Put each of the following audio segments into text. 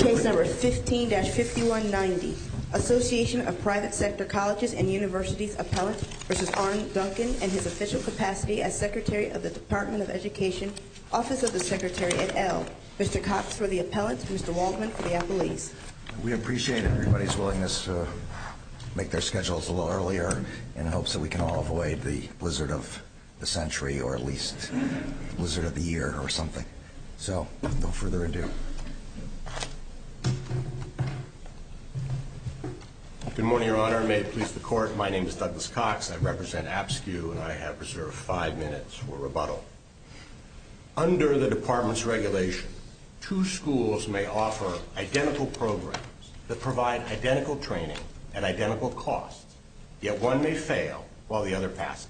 Case No. 15-5190 Association of Private Sector Colleges and Universities Appellant v. Arne Duncan and his official capacity as Secretary of the Department of Education, Office of the Secretary et al. Mr. Cox for the Appellants, Mr. Waldman for the Appellees. We appreciate everybody's willingness to make their schedules a little earlier in hopes that we can all avoid the blizzard of the century or at least blizzard of the year or something. So, without further ado. Good morning, Your Honor. May it please the Court, my name is Douglas Cox. I represent APSCU and I have reserved five minutes for rebuttal. Under the Department's regulation, two schools may offer identical programs that provide identical training at identical costs, yet one may fail while the other passes.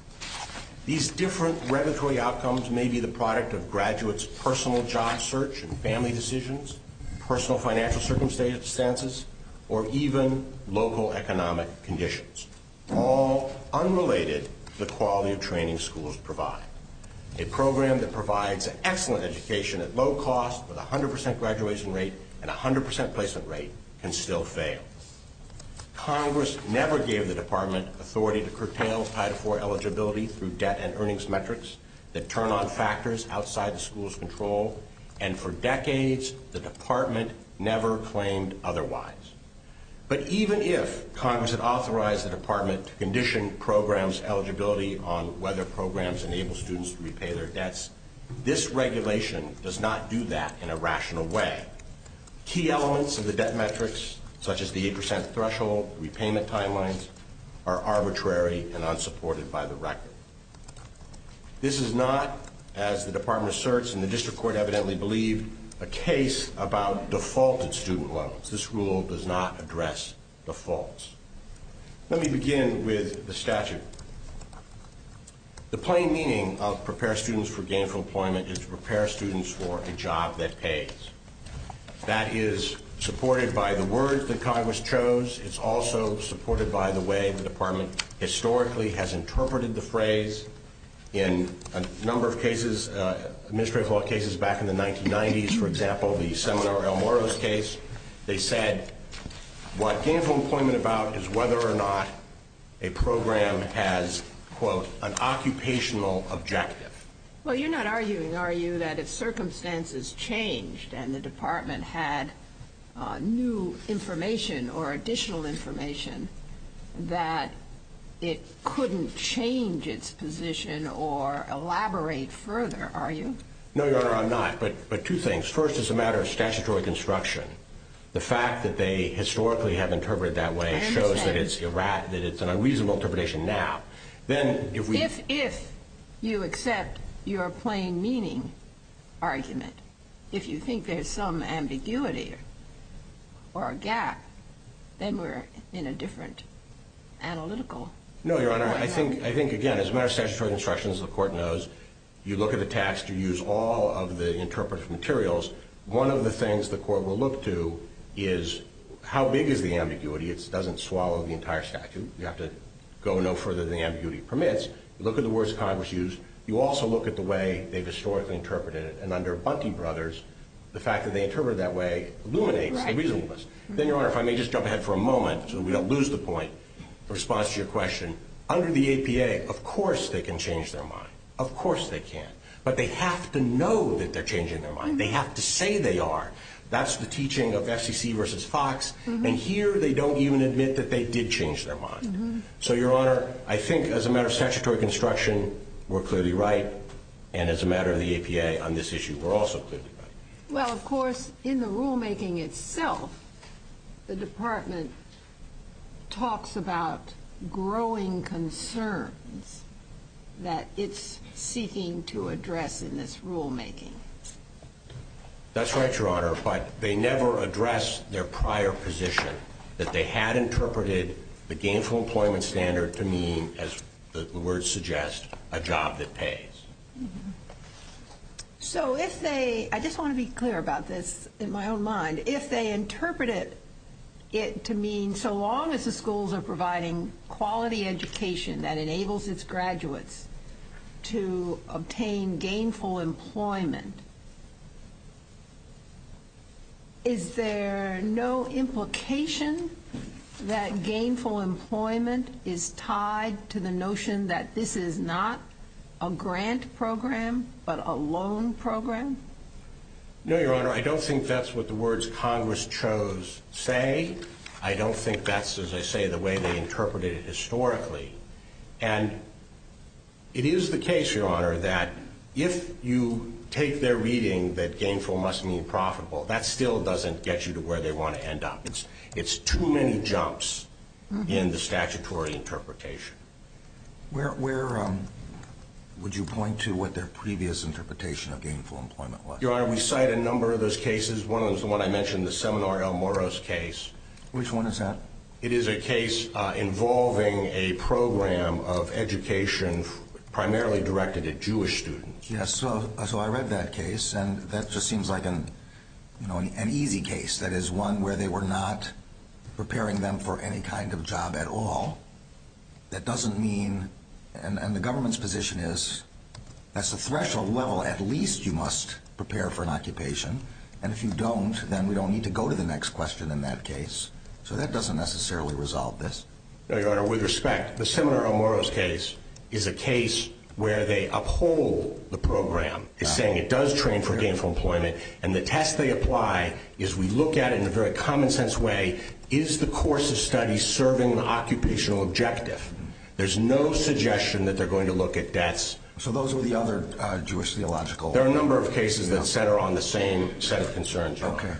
These different regulatory outcomes may be the product of graduates' personal job search and family decisions, personal financial circumstances, or even local economic conditions, all unrelated to the quality of training schools provide. A program that provides excellent education at low cost with a 100 percent graduation rate and a 100 percent placement rate can still fail. Congress never gave the Department authority to curtail Title IV eligibility through debt and earnings metrics that turn on factors outside the school's control, and for decades the Department never claimed otherwise. But even if Congress had authorized the Department to condition programs' eligibility on whether programs enable students to repay their debts, this regulation does not do that in a rational way. Key elements of the debt metrics, such as the 8 percent threshold, repayment timelines, are arbitrary and unsupported by the record. This is not, as the Department asserts and the District Court evidently believed, a case about defaulted student loans. This rule does not address defaults. Let me begin with the statute. The plain meaning of prepare students for gainful employment is prepare students for a job that pays. That is supported by the words that Congress chose. It's also supported by the way the Department historically has interpreted the phrase. In a number of cases, administrative law cases back in the 1990s, for example, the Seminor L. Morales case, they said what gainful employment is about is whether or not a program has, quote, an occupational objective. Well, you're not arguing, are you, that if circumstances changed and the Department had new information or additional information, that it couldn't change its position or elaborate further, are you? No, Your Honor, I'm not. But two things. First, as a matter of statutory construction, the fact that they historically have interpreted it that way shows that it's an unreasonable interpretation now. If you accept your plain meaning argument, if you think there's some ambiguity or a gap, then we're in a different analytical. No, Your Honor, I think, again, as a matter of statutory construction, as the Court knows, you look at the text, you use all of the interpreted materials. One of the things the Court will look to is how big is the ambiguity. It doesn't swallow the entire statute. You have to go no further than the ambiguity permits. You look at the words Congress used. You also look at the way they've historically interpreted it. And under Bunty Brothers, the fact that they interpreted it that way illuminates the reasonableness. Then, Your Honor, if I may just jump ahead for a moment so that we don't lose the point in response to your question. Under the APA, of course they can change their mind. Of course they can. But they have to know that they're changing their mind. They have to say they are. That's the teaching of FCC versus Fox. And here, they don't even admit that they did change their mind. So, Your Honor, I think, as a matter of statutory construction, we're clearly right. And as a matter of the APA on this issue, we're also clearly right. Well, of course, in the rulemaking itself, the Department talks about growing concerns that it's seeking to address in this rulemaking. That's right, Your Honor. But they never address their prior position that they had interpreted the gainful employment standard to mean, as the words suggest, a job that pays. So, I just want to be clear about this in my own mind. If they interpreted it to mean, so long as the schools are providing quality education that enables its graduates to obtain gainful employment, is there no implication that gainful employment is tied to the notion that this is not a grant program, but a loan program? No, Your Honor. I don't think that's what the words Congress chose say. I don't think that's, as I say, the way they interpreted it historically. And it is the case, Your Honor, that if you take their reading that gainful must mean profitable, that still doesn't get you to where they want to end up. It's too many jumps in the statutory interpretation. Where would you point to what their previous interpretation of gainful employment was? Your Honor, we cite a number of those cases. One of them is the one I mentioned, the Seminor El Moro's case. Which one is that? It is a case involving a program of education primarily directed at Jewish students. Yes, so I read that case, and that just seems like an easy case. That is one where they were not preparing them for any kind of job at all. That doesn't mean, and the government's position is, that's the threshold level at least you must prepare for an occupation. And if you don't, then we don't need to go to the next question in that case. So that doesn't necessarily resolve this. No, Your Honor, with respect, the Seminor El Moro's case is a case where they uphold the program. It's saying it does train for gainful employment, and the test they apply is we look at it in a very common sense way. Is the course of study serving an occupational objective? There's no suggestion that they're going to look at deaths. So those were the other Jewish theological... There are a number of cases that center on the same set of concerns, Your Honor. Okay.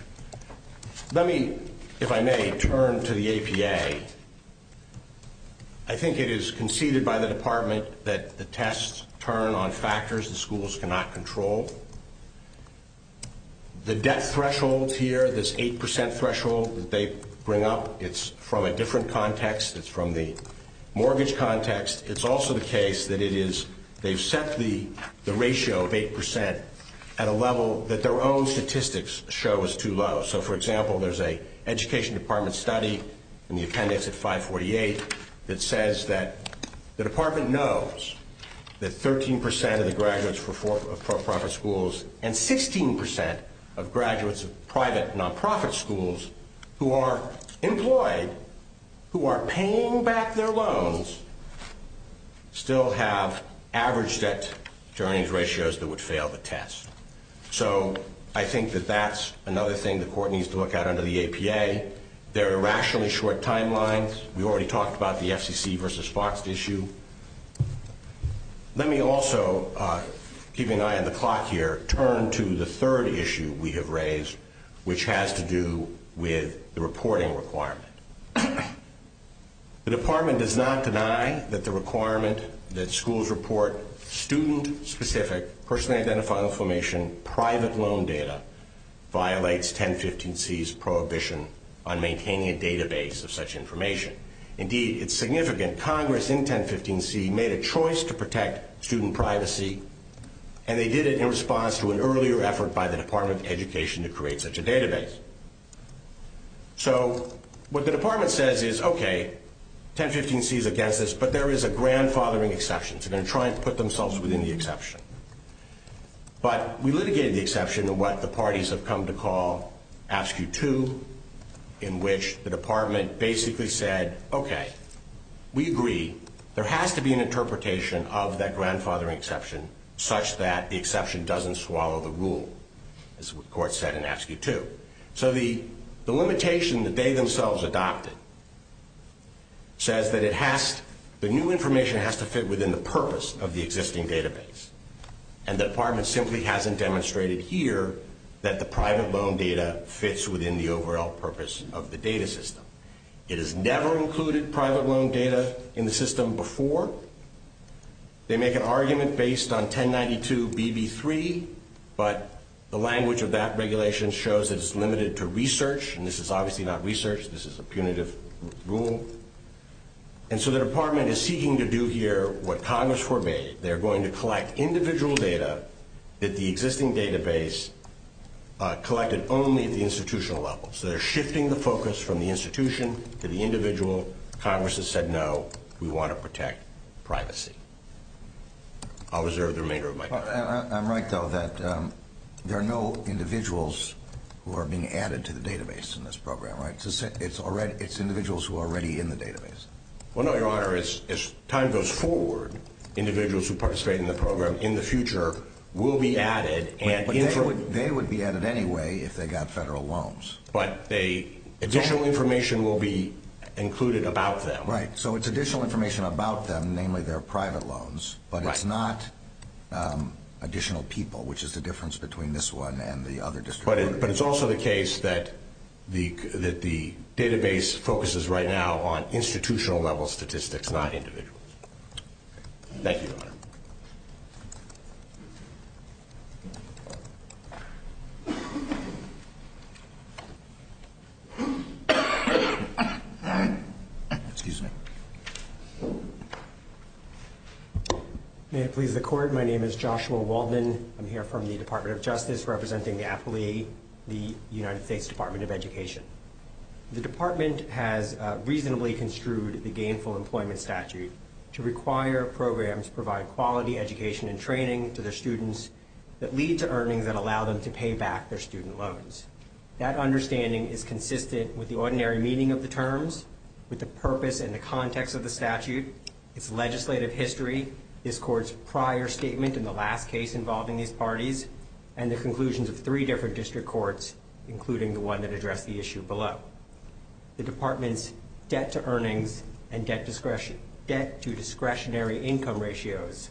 Let me, if I may, turn to the APA. I think it is conceded by the Department that the tests turn on factors the schools cannot control. The death threshold here, this 8% threshold that they bring up, it's from a different context. It's from the mortgage context. It's also the case that it is they've set the ratio of 8% at a level that their own statistics show is too low. So, for example, there's a Education Department study in the appendix at 548 that says that the Department knows that 13% of the graduates for for-profit schools and 16% of graduates of private nonprofit schools who are employed, who are paying back their loans, still have average debt-to-earnings ratios that would fail the test. So I think that that's another thing the court needs to look at under the APA. They're irrationally short timelines. We already talked about the FCC versus Fox issue. Let me also, keeping an eye on the clock here, turn to the third issue we have raised, which has to do with the reporting requirement. The Department does not deny that the requirement that schools report student-specific, personally-identified information, private loan data, violates 1015C's prohibition on maintaining a database of such information. Indeed, it's significant. Congress, in 1015C, made a choice to protect student privacy, and they did it in response to an earlier effort by the Department of Education to create such a database. So what the Department says is, OK, 1015C is against this, but there is a grandfathering exception. They're going to try and put themselves within the exception. But we litigated the exception in what the parties have come to call AFSCU 2, in which the Department basically said, OK, we agree. There has to be an interpretation of that grandfathering exception such that the exception doesn't swallow the rule, as the court said in AFSCU 2. So the limitation that they themselves adopted says that the new information has to fit within the purpose of the existing database. And the Department simply hasn't demonstrated here that the private loan data fits within the overall purpose of the data system. It has never included private loan data in the system before. They make an argument based on 1092BB3, but the language of that regulation shows that it's limited to research, and this is obviously not research. This is a punitive rule. And so the Department is seeking to do here what Congress forbade. They're going to collect individual data that the existing database collected only at the institutional level. So they're shifting the focus from the institution to the individual. Congress has said, no, we want to protect privacy. I'll reserve the remainder of my time. I'm right, though, that there are no individuals who are being added to the database in this program, right? It's individuals who are already in the database. Well, no, Your Honor. As time goes forward, individuals who participate in the program in the future will be added. But they would be added anyway if they got federal loans. But additional information will be included about them. Right. So it's additional information about them, namely their private loans, but it's not additional people, which is the difference between this one and the other district. But it's also the case that the database focuses right now on institutional-level statistics, not individuals. Thank you, Your Honor. Excuse me. May it please the Court, my name is Joshua Waldman. I'm here from the Department of Justice representing the appellee, the United States Department of Education. The department has reasonably construed the gainful employment statute to require programs to provide quality education and training to their students that lead to earnings that allow them to pay back their student loans. That understanding is consistent with the ordinary meaning of the terms, with the purpose and the context of the statute, its legislative history, this Court's prior statement in the last case involving these parties, and the conclusions of three different district courts, including the one that addressed the issue below. The department's debt-to-earnings and debt-to-discretionary income ratios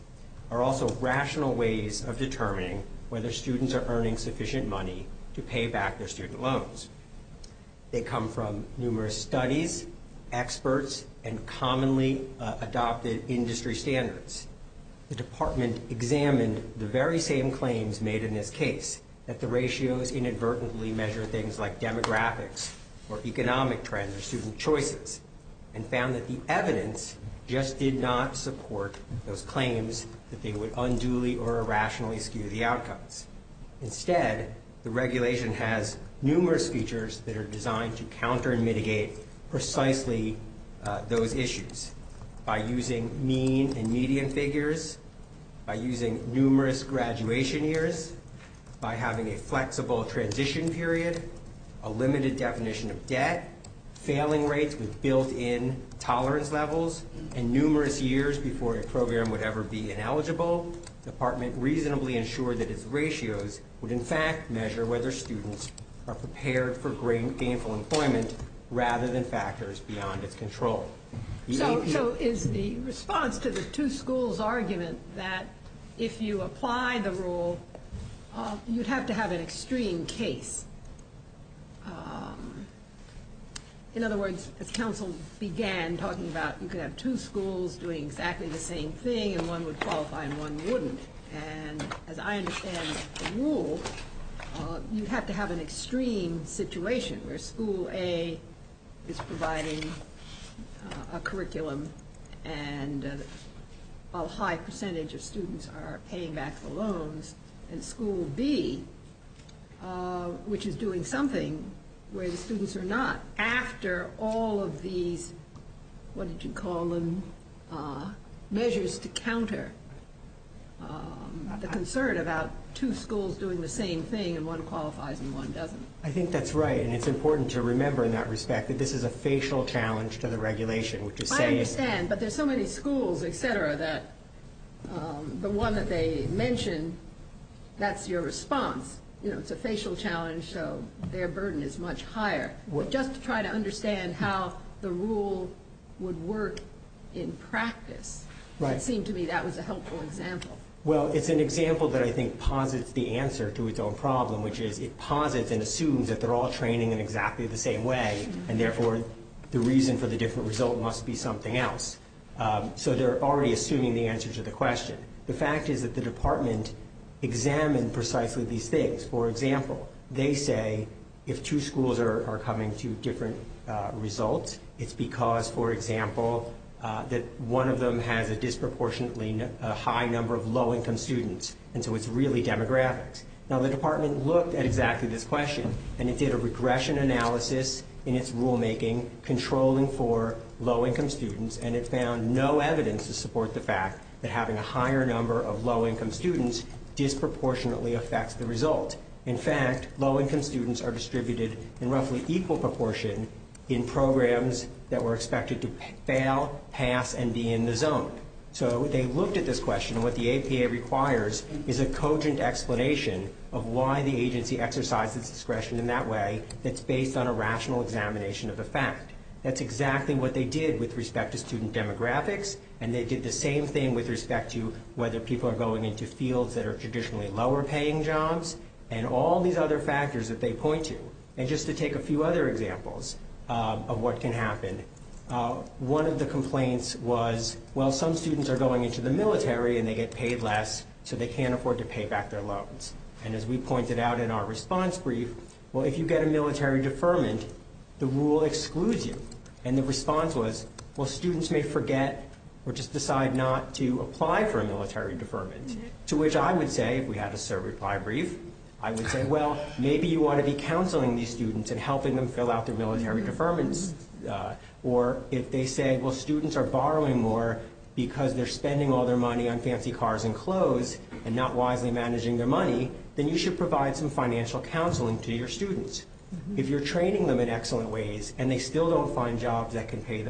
are also rational ways of determining whether students are earning sufficient money to pay back their student loans. They come from numerous studies, experts, and commonly adopted industry standards. The department examined the very same claims made in this case, that the ratios inadvertently measure things like demographics or economic trends or student choices, and found that the evidence just did not support those claims that they would unduly or irrationally skew the outcomes. Instead, the regulation has numerous features that are designed to counter and mitigate precisely those issues by using mean and median figures, by using numerous graduation years, by having a flexible transition period, a limited definition of debt, failing rates with built-in tolerance levels, and numerous years before a program would ever be ineligible. The department reasonably ensured that its ratios would, in fact, measure whether students are prepared for gainful employment rather than factors beyond its control. So is the response to the two schools' argument that if you apply the rule, you'd have to have an extreme case? In other words, as counsel began talking about you could have two schools doing exactly the same thing and one would qualify and one wouldn't, and as I understand the rule, you'd have to have an extreme situation where school A is providing a curriculum and a high percentage of students are paying back the loans, and school B, which is doing something where the students are not, after all of these, what did you call them, measures to counter the concern about two schools doing the same thing and one qualifies and one doesn't. I think that's right, and it's important to remember in that respect that this is a facial challenge to the regulation. I understand, but there's so many schools, et cetera, that the one that they mention, that's your response. It's a facial challenge, so their burden is much higher. Just to try to understand how the rule would work in practice, it seemed to me that was a helpful example. Well, it's an example that I think posits the answer to its own problem, which is it posits and assumes that they're all training in exactly the same way, and therefore the reason for the different result must be something else. So they're already assuming the answer to the question. The fact is that the department examined precisely these things. For example, they say if two schools are coming to different results, it's because, for example, that one of them has a disproportionately high number of low-income students, and so it's really demographics. Now, the department looked at exactly this question, and it did a regression analysis in its rulemaking controlling for low-income students, and it found no evidence to support the fact that having a higher number of low-income students disproportionately affects the result. In fact, low-income students are distributed in roughly equal proportion in programs that were expected to fail, pass, and be in the zone. So they looked at this question, and what the APA requires is a cogent explanation of why the agency exercised its discretion in that way that's based on a rational examination of the fact. That's exactly what they did with respect to student demographics, and they did the same thing with respect to whether people are going into fields that are traditionally lower-paying jobs and all these other factors that they point to. And just to take a few other examples of what can happen, one of the complaints was, well, some students are going into the military, and they get paid less, so they can't afford to pay back their loans. And as we pointed out in our response brief, well, if you get a military deferment, the rule excludes you. And the response was, well, students may forget or just decide not to apply for a military deferment, to which I would say, if we had a certify brief, I would say, well, maybe you want to be counseling these students and helping them fill out their military deferments. Or if they say, well, students are borrowing more because they're spending all their money on fancy cars and clothes and not wisely managing their money, then you should provide some financial counseling to your students. If you're training them in excellent ways and they still don't find jobs that can pay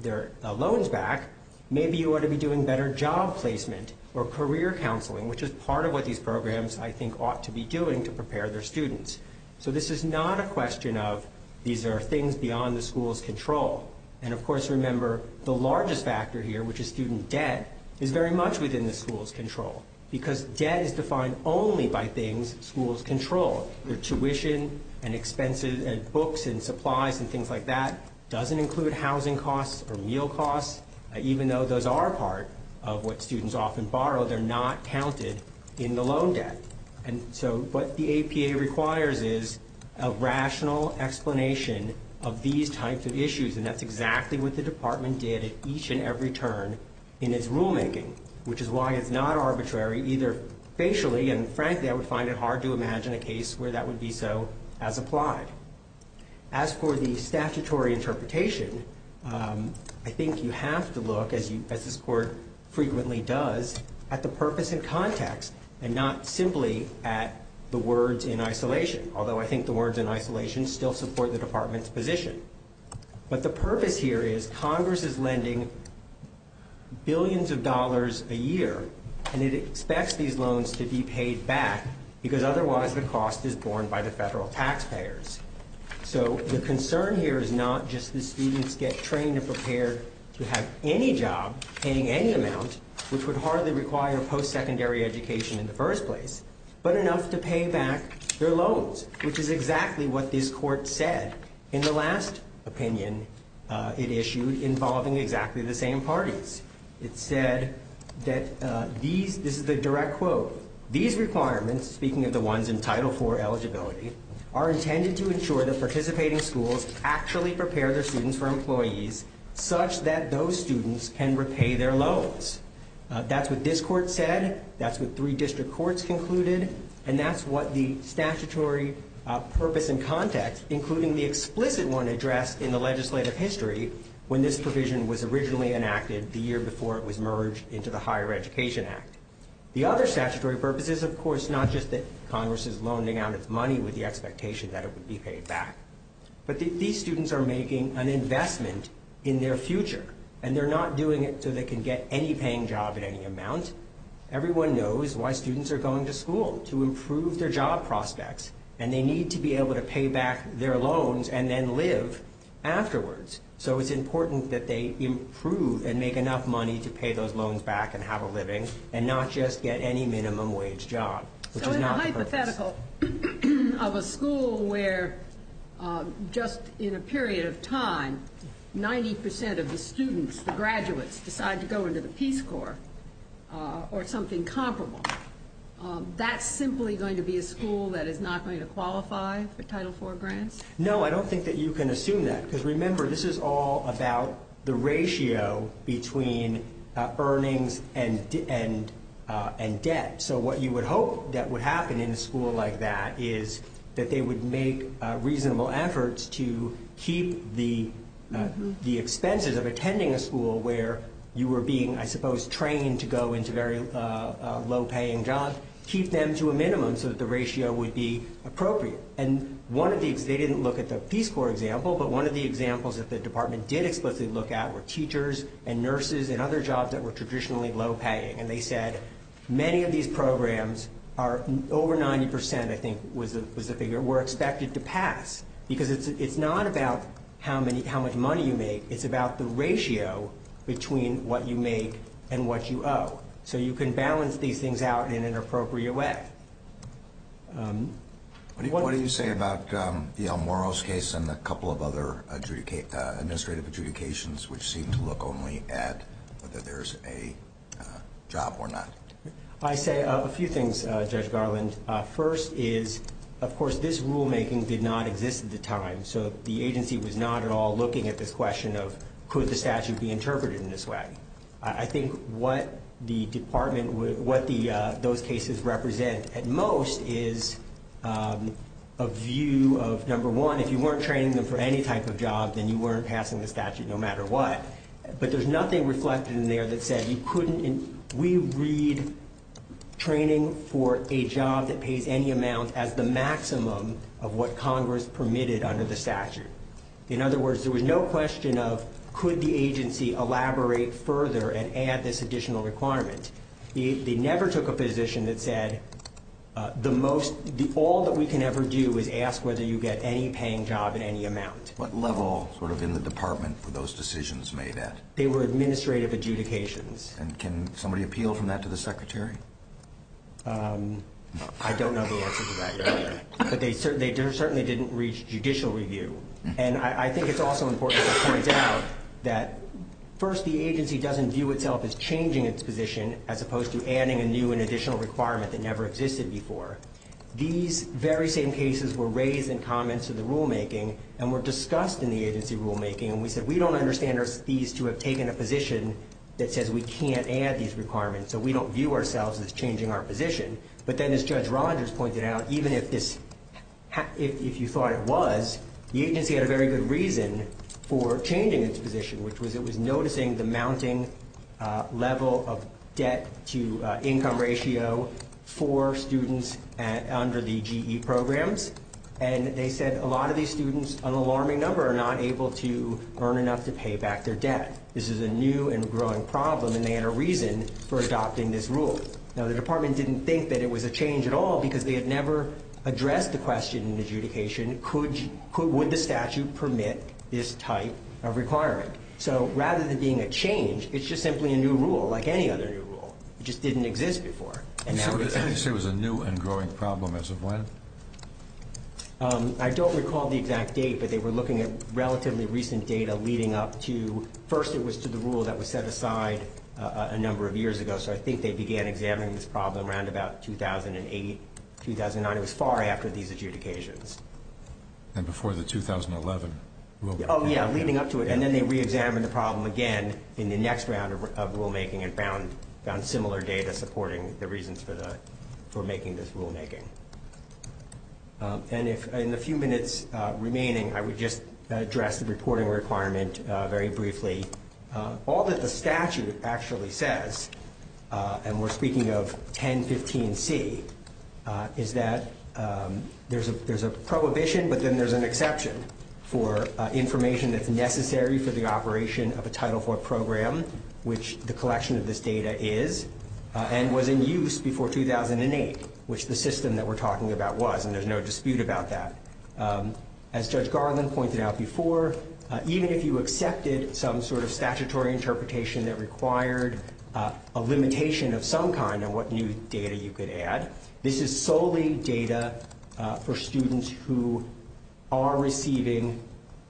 their loans back, maybe you ought to be doing better job placement or career counseling, which is part of what these programs, I think, ought to be doing to prepare their students. So this is not a question of these are things beyond the school's control. And, of course, remember, the largest factor here, which is student debt, is very much within the school's control because debt is defined only by things schools control. Their tuition and expenses and books and supplies and things like that doesn't include housing costs or meal costs. Even though those are part of what students often borrow, they're not counted in the loan debt. And so what the APA requires is a rational explanation of these types of issues, and that's exactly what the department did at each and every turn in its rulemaking, which is why it's not arbitrary either facially and, frankly, I would find it hard to imagine a case where that would be so as applied. As for the statutory interpretation, I think you have to look, as this court frequently does, at the purpose and context and not simply at the words in isolation, although I think the words in isolation still support the department's position. But the purpose here is Congress is lending billions of dollars a year, and it expects these loans to be paid back because otherwise the cost is borne by the federal taxpayers. So the concern here is not just the students get trained and prepared to have any job paying any amount, which would hardly require post-secondary education in the first place, but enough to pay back their loans, which is exactly what this court said in the last opinion it issued involving exactly the same parties. It said that these, this is the direct quote, these requirements, speaking of the ones in Title IV eligibility, are intended to ensure that participating schools actually prepare their students for employees such that those students can repay their loans. That's what this court said, that's what three district courts concluded, and that's what the statutory purpose and context, including the explicit one addressed in the legislative history, when this provision was originally enacted the year before it was merged into the Higher Education Act. The other statutory purpose is, of course, not just that Congress is loaning out its money with the expectation that it would be paid back, but that these students are making an investment in their future, and they're not doing it so they can get any paying job at any amount. Everyone knows why students are going to school, to improve their job prospects, and they need to be able to pay back their loans and then live afterwards. So it's important that they improve and make enough money to pay those loans back and have a living, and not just get any minimum wage job, which is not the purpose. The hypothetical of a school where just in a period of time 90 percent of the students, the graduates, decide to go into the Peace Corps or something comparable, that's simply going to be a school that is not going to qualify for Title IV grants? No, I don't think that you can assume that, because remember, this is all about the ratio between earnings and debt. So what you would hope that would happen in a school like that is that they would make reasonable efforts to keep the expenses of attending a school where you were being, I suppose, trained to go into very low-paying jobs, keep them to a minimum so that the ratio would be appropriate. And they didn't look at the Peace Corps example, but one of the examples that the department did explicitly look at were teachers and nurses and other jobs that were traditionally low-paying. And they said many of these programs are over 90 percent, I think was the figure, were expected to pass, because it's not about how much money you make. It's about the ratio between what you make and what you owe. So you can balance these things out in an appropriate way. What do you say about the El Moro's case and a couple of other administrative adjudications which seem to look only at whether there's a job or not? I say a few things, Judge Garland. First is, of course, this rulemaking did not exist at the time, so the agency was not at all looking at this question of could the statute be interpreted in this way. I think what the department, what those cases represent at most is a view of, number one, if you weren't training them for any type of job, then you weren't passing the statute no matter what. But there's nothing reflected in there that said you couldn't and we read training for a job that pays any amount as the maximum of what Congress permitted under the statute. In other words, there was no question of could the agency elaborate further and add this additional requirement. They never took a position that said all that we can ever do is ask whether you get any paying job at any amount. What level sort of in the department were those decisions made at? They were administrative adjudications. And can somebody appeal from that to the Secretary? I don't know the answer to that yet, but they certainly didn't reach judicial review. And I think it's also important to point out that, first, the agency doesn't view itself as changing its position as opposed to adding a new and additional requirement that never existed before. These very same cases were raised in comments to the rulemaking and were discussed in the agency rulemaking. And we said we don't understand these to have taken a position that says we can't add these requirements, so we don't view ourselves as changing our position. But then, as Judge Rogers pointed out, even if you thought it was, the agency had a very good reason for changing its position, which was it was noticing the mounting level of debt-to-income ratio for students under the GE programs. And they said a lot of these students, an alarming number, are not able to earn enough to pay back their debt. This is a new and growing problem, and they had a reason for adopting this rule. Now, the department didn't think that it was a change at all because they had never addressed the question in adjudication, would the statute permit this type of requirement? So rather than being a change, it's just simply a new rule, like any other new rule. It just didn't exist before. And now it does. You say it was a new and growing problem. As of when? I don't recall the exact date, but they were looking at relatively recent data leading up to, first it was to the rule that was set aside a number of years ago, so I think they began examining this problem around about 2008, 2009. It was far after these adjudications. And before the 2011 rule? Oh, yeah, leading up to it. And then they reexamined the problem again in the next round of rulemaking and found similar data supporting the reasons for making this rulemaking. And in the few minutes remaining, I would just address the reporting requirement very briefly. All that the statute actually says, and we're speaking of 1015C, is that there's a prohibition, but then there's an exception for information that's necessary for the operation of a Title IV program, which the collection of this data is, and was in use before 2008, which the system that we're talking about was, and there's no dispute about that. As Judge Garland pointed out before, even if you accepted some sort of statutory interpretation that required a limitation of some kind on what new data you could add, this is solely data for students who are receiving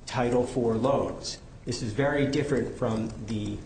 Title IV loans. This is very different from the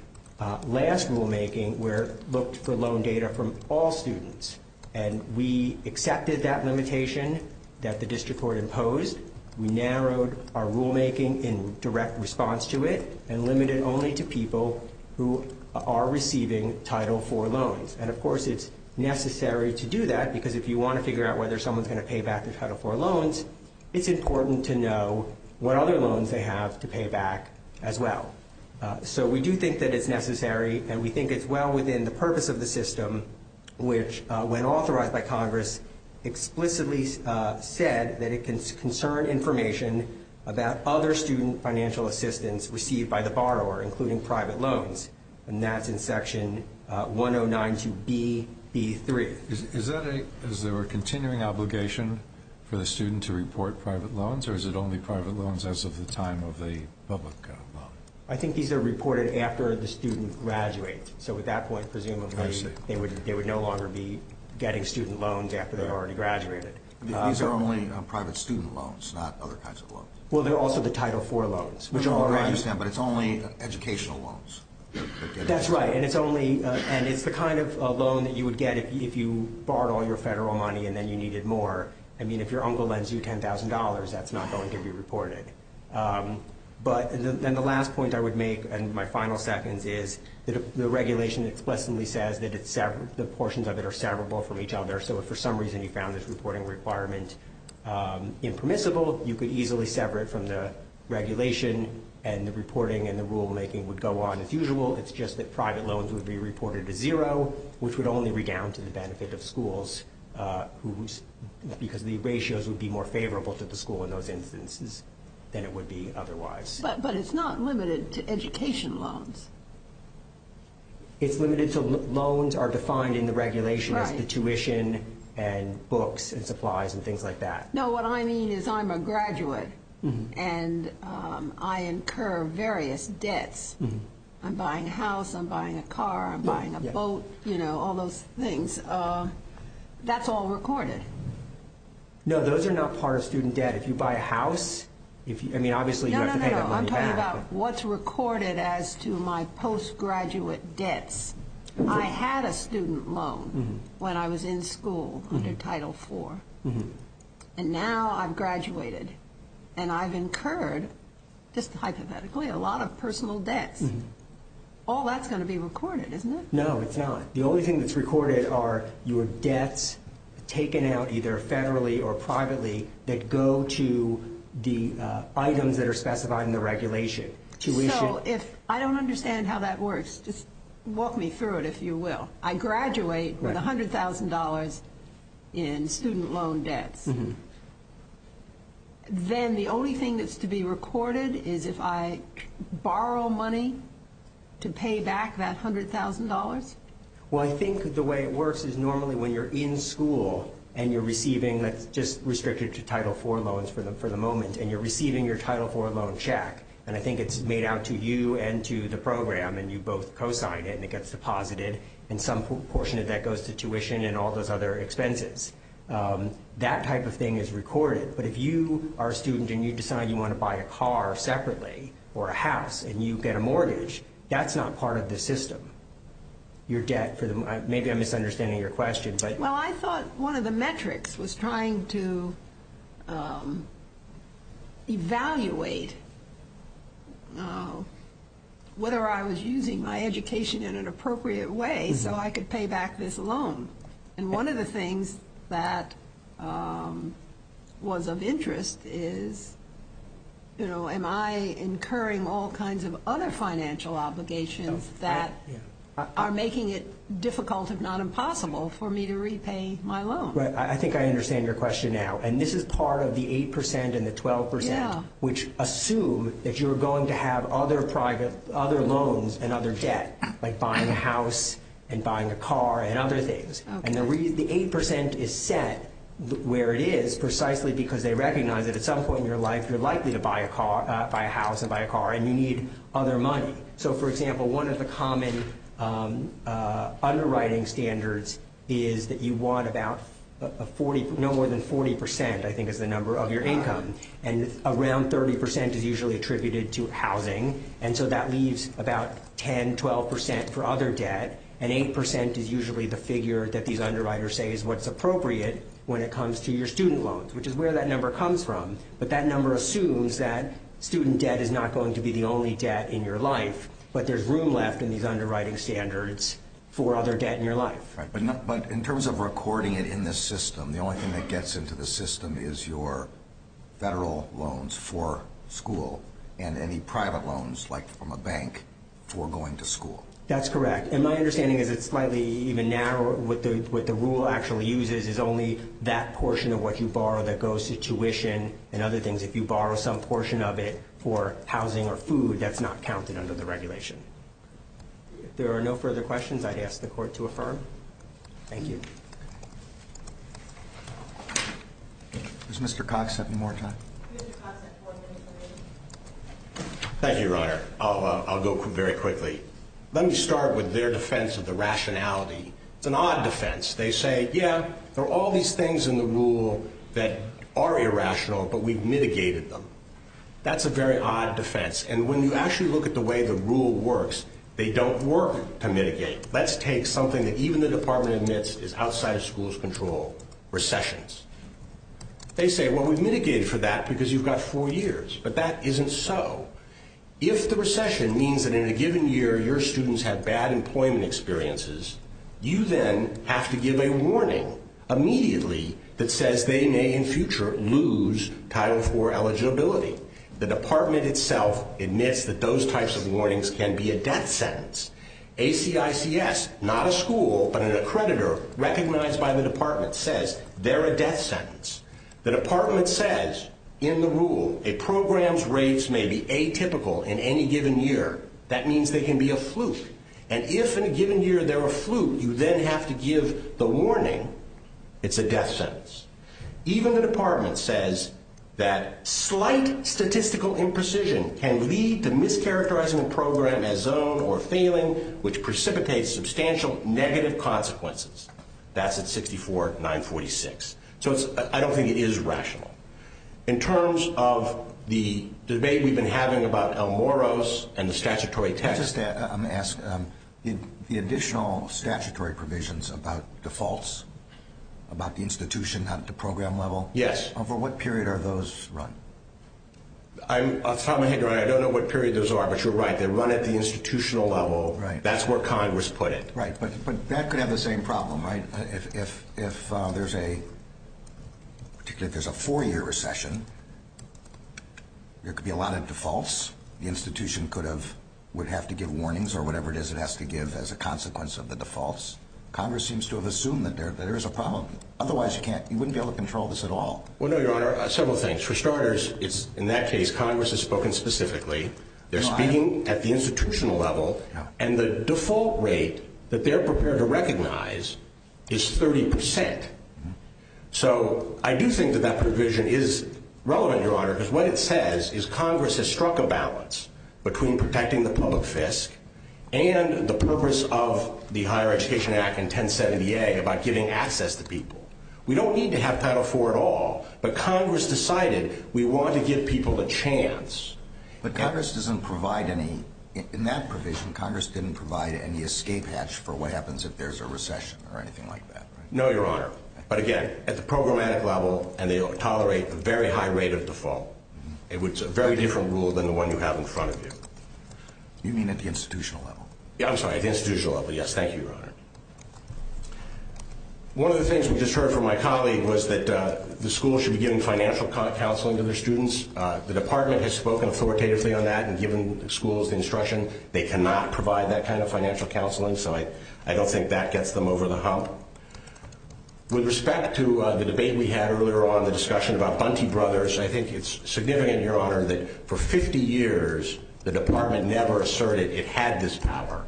last rulemaking where it looked for loan data from all students. And we accepted that limitation that the district court imposed. We narrowed our rulemaking in direct response to it and limited only to people who are receiving Title IV loans. And, of course, it's necessary to do that because if you want to figure out whether someone's going to pay back their Title IV loans, it's important to know what other loans they have to pay back as well. So we do think that it's necessary, and we think it's well within the purpose of the system, which when authorized by Congress explicitly said that it can concern information about other student financial assistance received by the borrower, including private loans, and that's in Section 1092B. Is there a continuing obligation for the student to report private loans, or is it only private loans as of the time of the public loan? I think these are reported after the student graduates. So at that point, presumably, they would no longer be getting student loans after they've already graduated. These are only private student loans, not other kinds of loans. Well, they're also the Title IV loans. I understand, but it's only educational loans. That's right, and it's the kind of loan that you would get if you borrowed all your federal money and then you needed more. I mean, if your uncle lends you $10,000, that's not going to be reported. But then the last point I would make, and my final seconds, is the regulation explicitly says that the portions of it are severable from each other. So if for some reason you found this reporting requirement impermissible, you could easily sever it from the regulation, and the reporting and the rulemaking would go on. As usual, it's just that private loans would be reported as zero, which would only redound to the benefit of schools, because the ratios would be more favorable to the school in those instances than it would be otherwise. But it's not limited to education loans. It's limited to loans are defined in the regulation as the tuition and books and supplies and things like that. No, what I mean is I'm a graduate, and I incur various debts. I'm buying a house, I'm buying a car, I'm buying a boat, you know, all those things. That's all recorded. No, those are not part of student debt. If you buy a house, I mean, obviously you have to pay that money back. No, no, no, I'm talking about what's recorded as to my postgraduate debts. I had a student loan when I was in school under Title IV, and now I've graduated and I've incurred, just hypothetically, a lot of personal debts. All that's going to be recorded, isn't it? No, it's not. The only thing that's recorded are your debts taken out either federally or privately that go to the items that are specified in the regulation, tuition. So if I don't understand how that works, just walk me through it, if you will. I graduate with $100,000 in student loan debts. Then the only thing that's to be recorded is if I borrow money to pay back that $100,000? Well, I think the way it works is normally when you're in school and you're receiving, that's just restricted to Title IV loans for the moment, and you're receiving your Title IV loan check, and I think it's made out to you and to the program and you both co-sign it and it gets deposited and some portion of that goes to tuition and all those other expenses. That type of thing is recorded, but if you are a student and you decide you want to buy a car separately or a house and you get a mortgage, that's not part of the system, your debt. Maybe I'm misunderstanding your question. Well, I thought one of the metrics was trying to evaluate whether I was using my education in an appropriate way so I could pay back this loan. And one of the things that was of interest is am I incurring all kinds of other financial obligations that are making it difficult, if not impossible, for me to repay my loan? Right. I think I understand your question now. And this is part of the 8% and the 12% which assume that you're going to have other loans and other debt, like buying a house and buying a car and other things. And the 8% is set where it is precisely because they recognize that at some point in your life you're likely to buy a house and buy a car and you need other money. So, for example, one of the common underwriting standards is that you want no more than 40%, I think, is the number of your income, and around 30% is usually attributed to housing, and so that leaves about 10%, 12% for other debt, and 8% is usually the figure that these underwriters say is what's appropriate when it comes to your student loans, which is where that number comes from. But that number assumes that student debt is not going to be the only debt in your life, but there's room left in these underwriting standards for other debt in your life. Right. But in terms of recording it in this system, the only thing that gets into the system is your federal loans for school and any private loans, like from a bank, for going to school. That's correct. And my understanding is it's slightly even narrower. What the rule actually uses is only that portion of what you borrow that goes to tuition and other things. If you borrow some portion of it for housing or food, that's not counted under the regulation. If there are no further questions, I'd ask the Court to affirm. Thank you. Does Mr. Cox have any more time? Thank you, Your Honor. I'll go very quickly. Let me start with their defense of the rationality. It's an odd defense. They say, yeah, there are all these things in the rule that are irrational, but we've mitigated them. That's a very odd defense. And when you actually look at the way the rule works, they don't work to mitigate. Let's take something that even the Department admits is outside of schools' control, recessions. They say, well, we've mitigated for that because you've got four years, but that isn't so. If the recession means that in a given year your students have bad employment experiences, you then have to give a warning immediately that says they may in future lose Title IV eligibility. The Department itself admits that those types of warnings can be a death sentence. ACICS, not a school, but an accreditor recognized by the Department, says they're a death sentence. The Department says in the rule a program's rates may be atypical in any given year. That means they can be a fluke. And if in a given year they're a fluke, you then have to give the warning it's a death sentence. Even the Department says that slight statistical imprecision can lead to mischaracterizing a program as zoned or failing, which precipitates substantial negative consequences. That's at 64-946. So I don't think it is rational. In terms of the debate we've been having about El Moro's and the statutory test. Let me ask, the additional statutory provisions about defaults, about the institution, not the program level. Yes. Over what period are those run? I don't know what period those are, but you're right. They're run at the institutional level. Right. That's where Congress put it. Right, but that could have the same problem, right? If there's a, particularly if there's a four-year recession, there could be a lot of defaults. The institution would have to give warnings or whatever it is it has to give as a consequence of the defaults. Congress seems to have assumed that there is a problem. Otherwise, you wouldn't be able to control this at all. Well, no, Your Honor, several things. For starters, in that case, Congress has spoken specifically. They're speaking at the institutional level, and the default rate that they're prepared to recognize is 30%. So I do think that that provision is relevant, Your Honor, because what it says is Congress has struck a balance between protecting the public fisc and the purpose of the Higher Education Act and 1070A about giving access to people. We don't need to have Title IV at all, but Congress decided we want to give people a chance. But Congress doesn't provide any, in that provision, Congress didn't provide any escape hatch for what happens if there's a recession or anything like that, right? No, Your Honor, but again, at the programmatic level, and they tolerate a very high rate of default. It's a very different rule than the one you have in front of you. You mean at the institutional level? Yeah, I'm sorry, at the institutional level, yes. Thank you, Your Honor. One of the things we just heard from my colleague was that the school should be giving financial counseling to their students. The Department has spoken authoritatively on that and given schools the instruction. They cannot provide that kind of financial counseling, so I don't think that gets them over the hump. With respect to the debate we had earlier on, the discussion about Bunty Brothers, I think it's significant, Your Honor, that for 50 years the Department never asserted it had this power,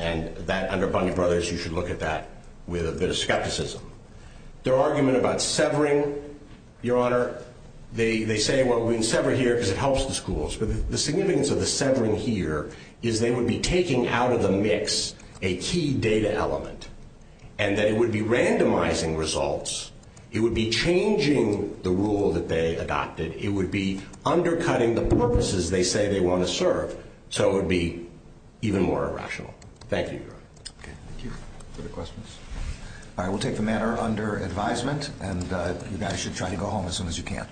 and that under Bunty Brothers you should look at that with a bit of skepticism. Their argument about severing, Your Honor, they say, well, we can sever here because it helps the schools, but the significance of the severing here is they would be taking out of the mix a key data element and that it would be randomizing results, it would be changing the rule that they adopted, it would be undercutting the purposes they say they want to serve, so it would be even more irrational. Thank you, Your Honor. Okay, thank you. Other questions? All right, we'll take the matter under advisement, and you guys should try to go home as soon as you can.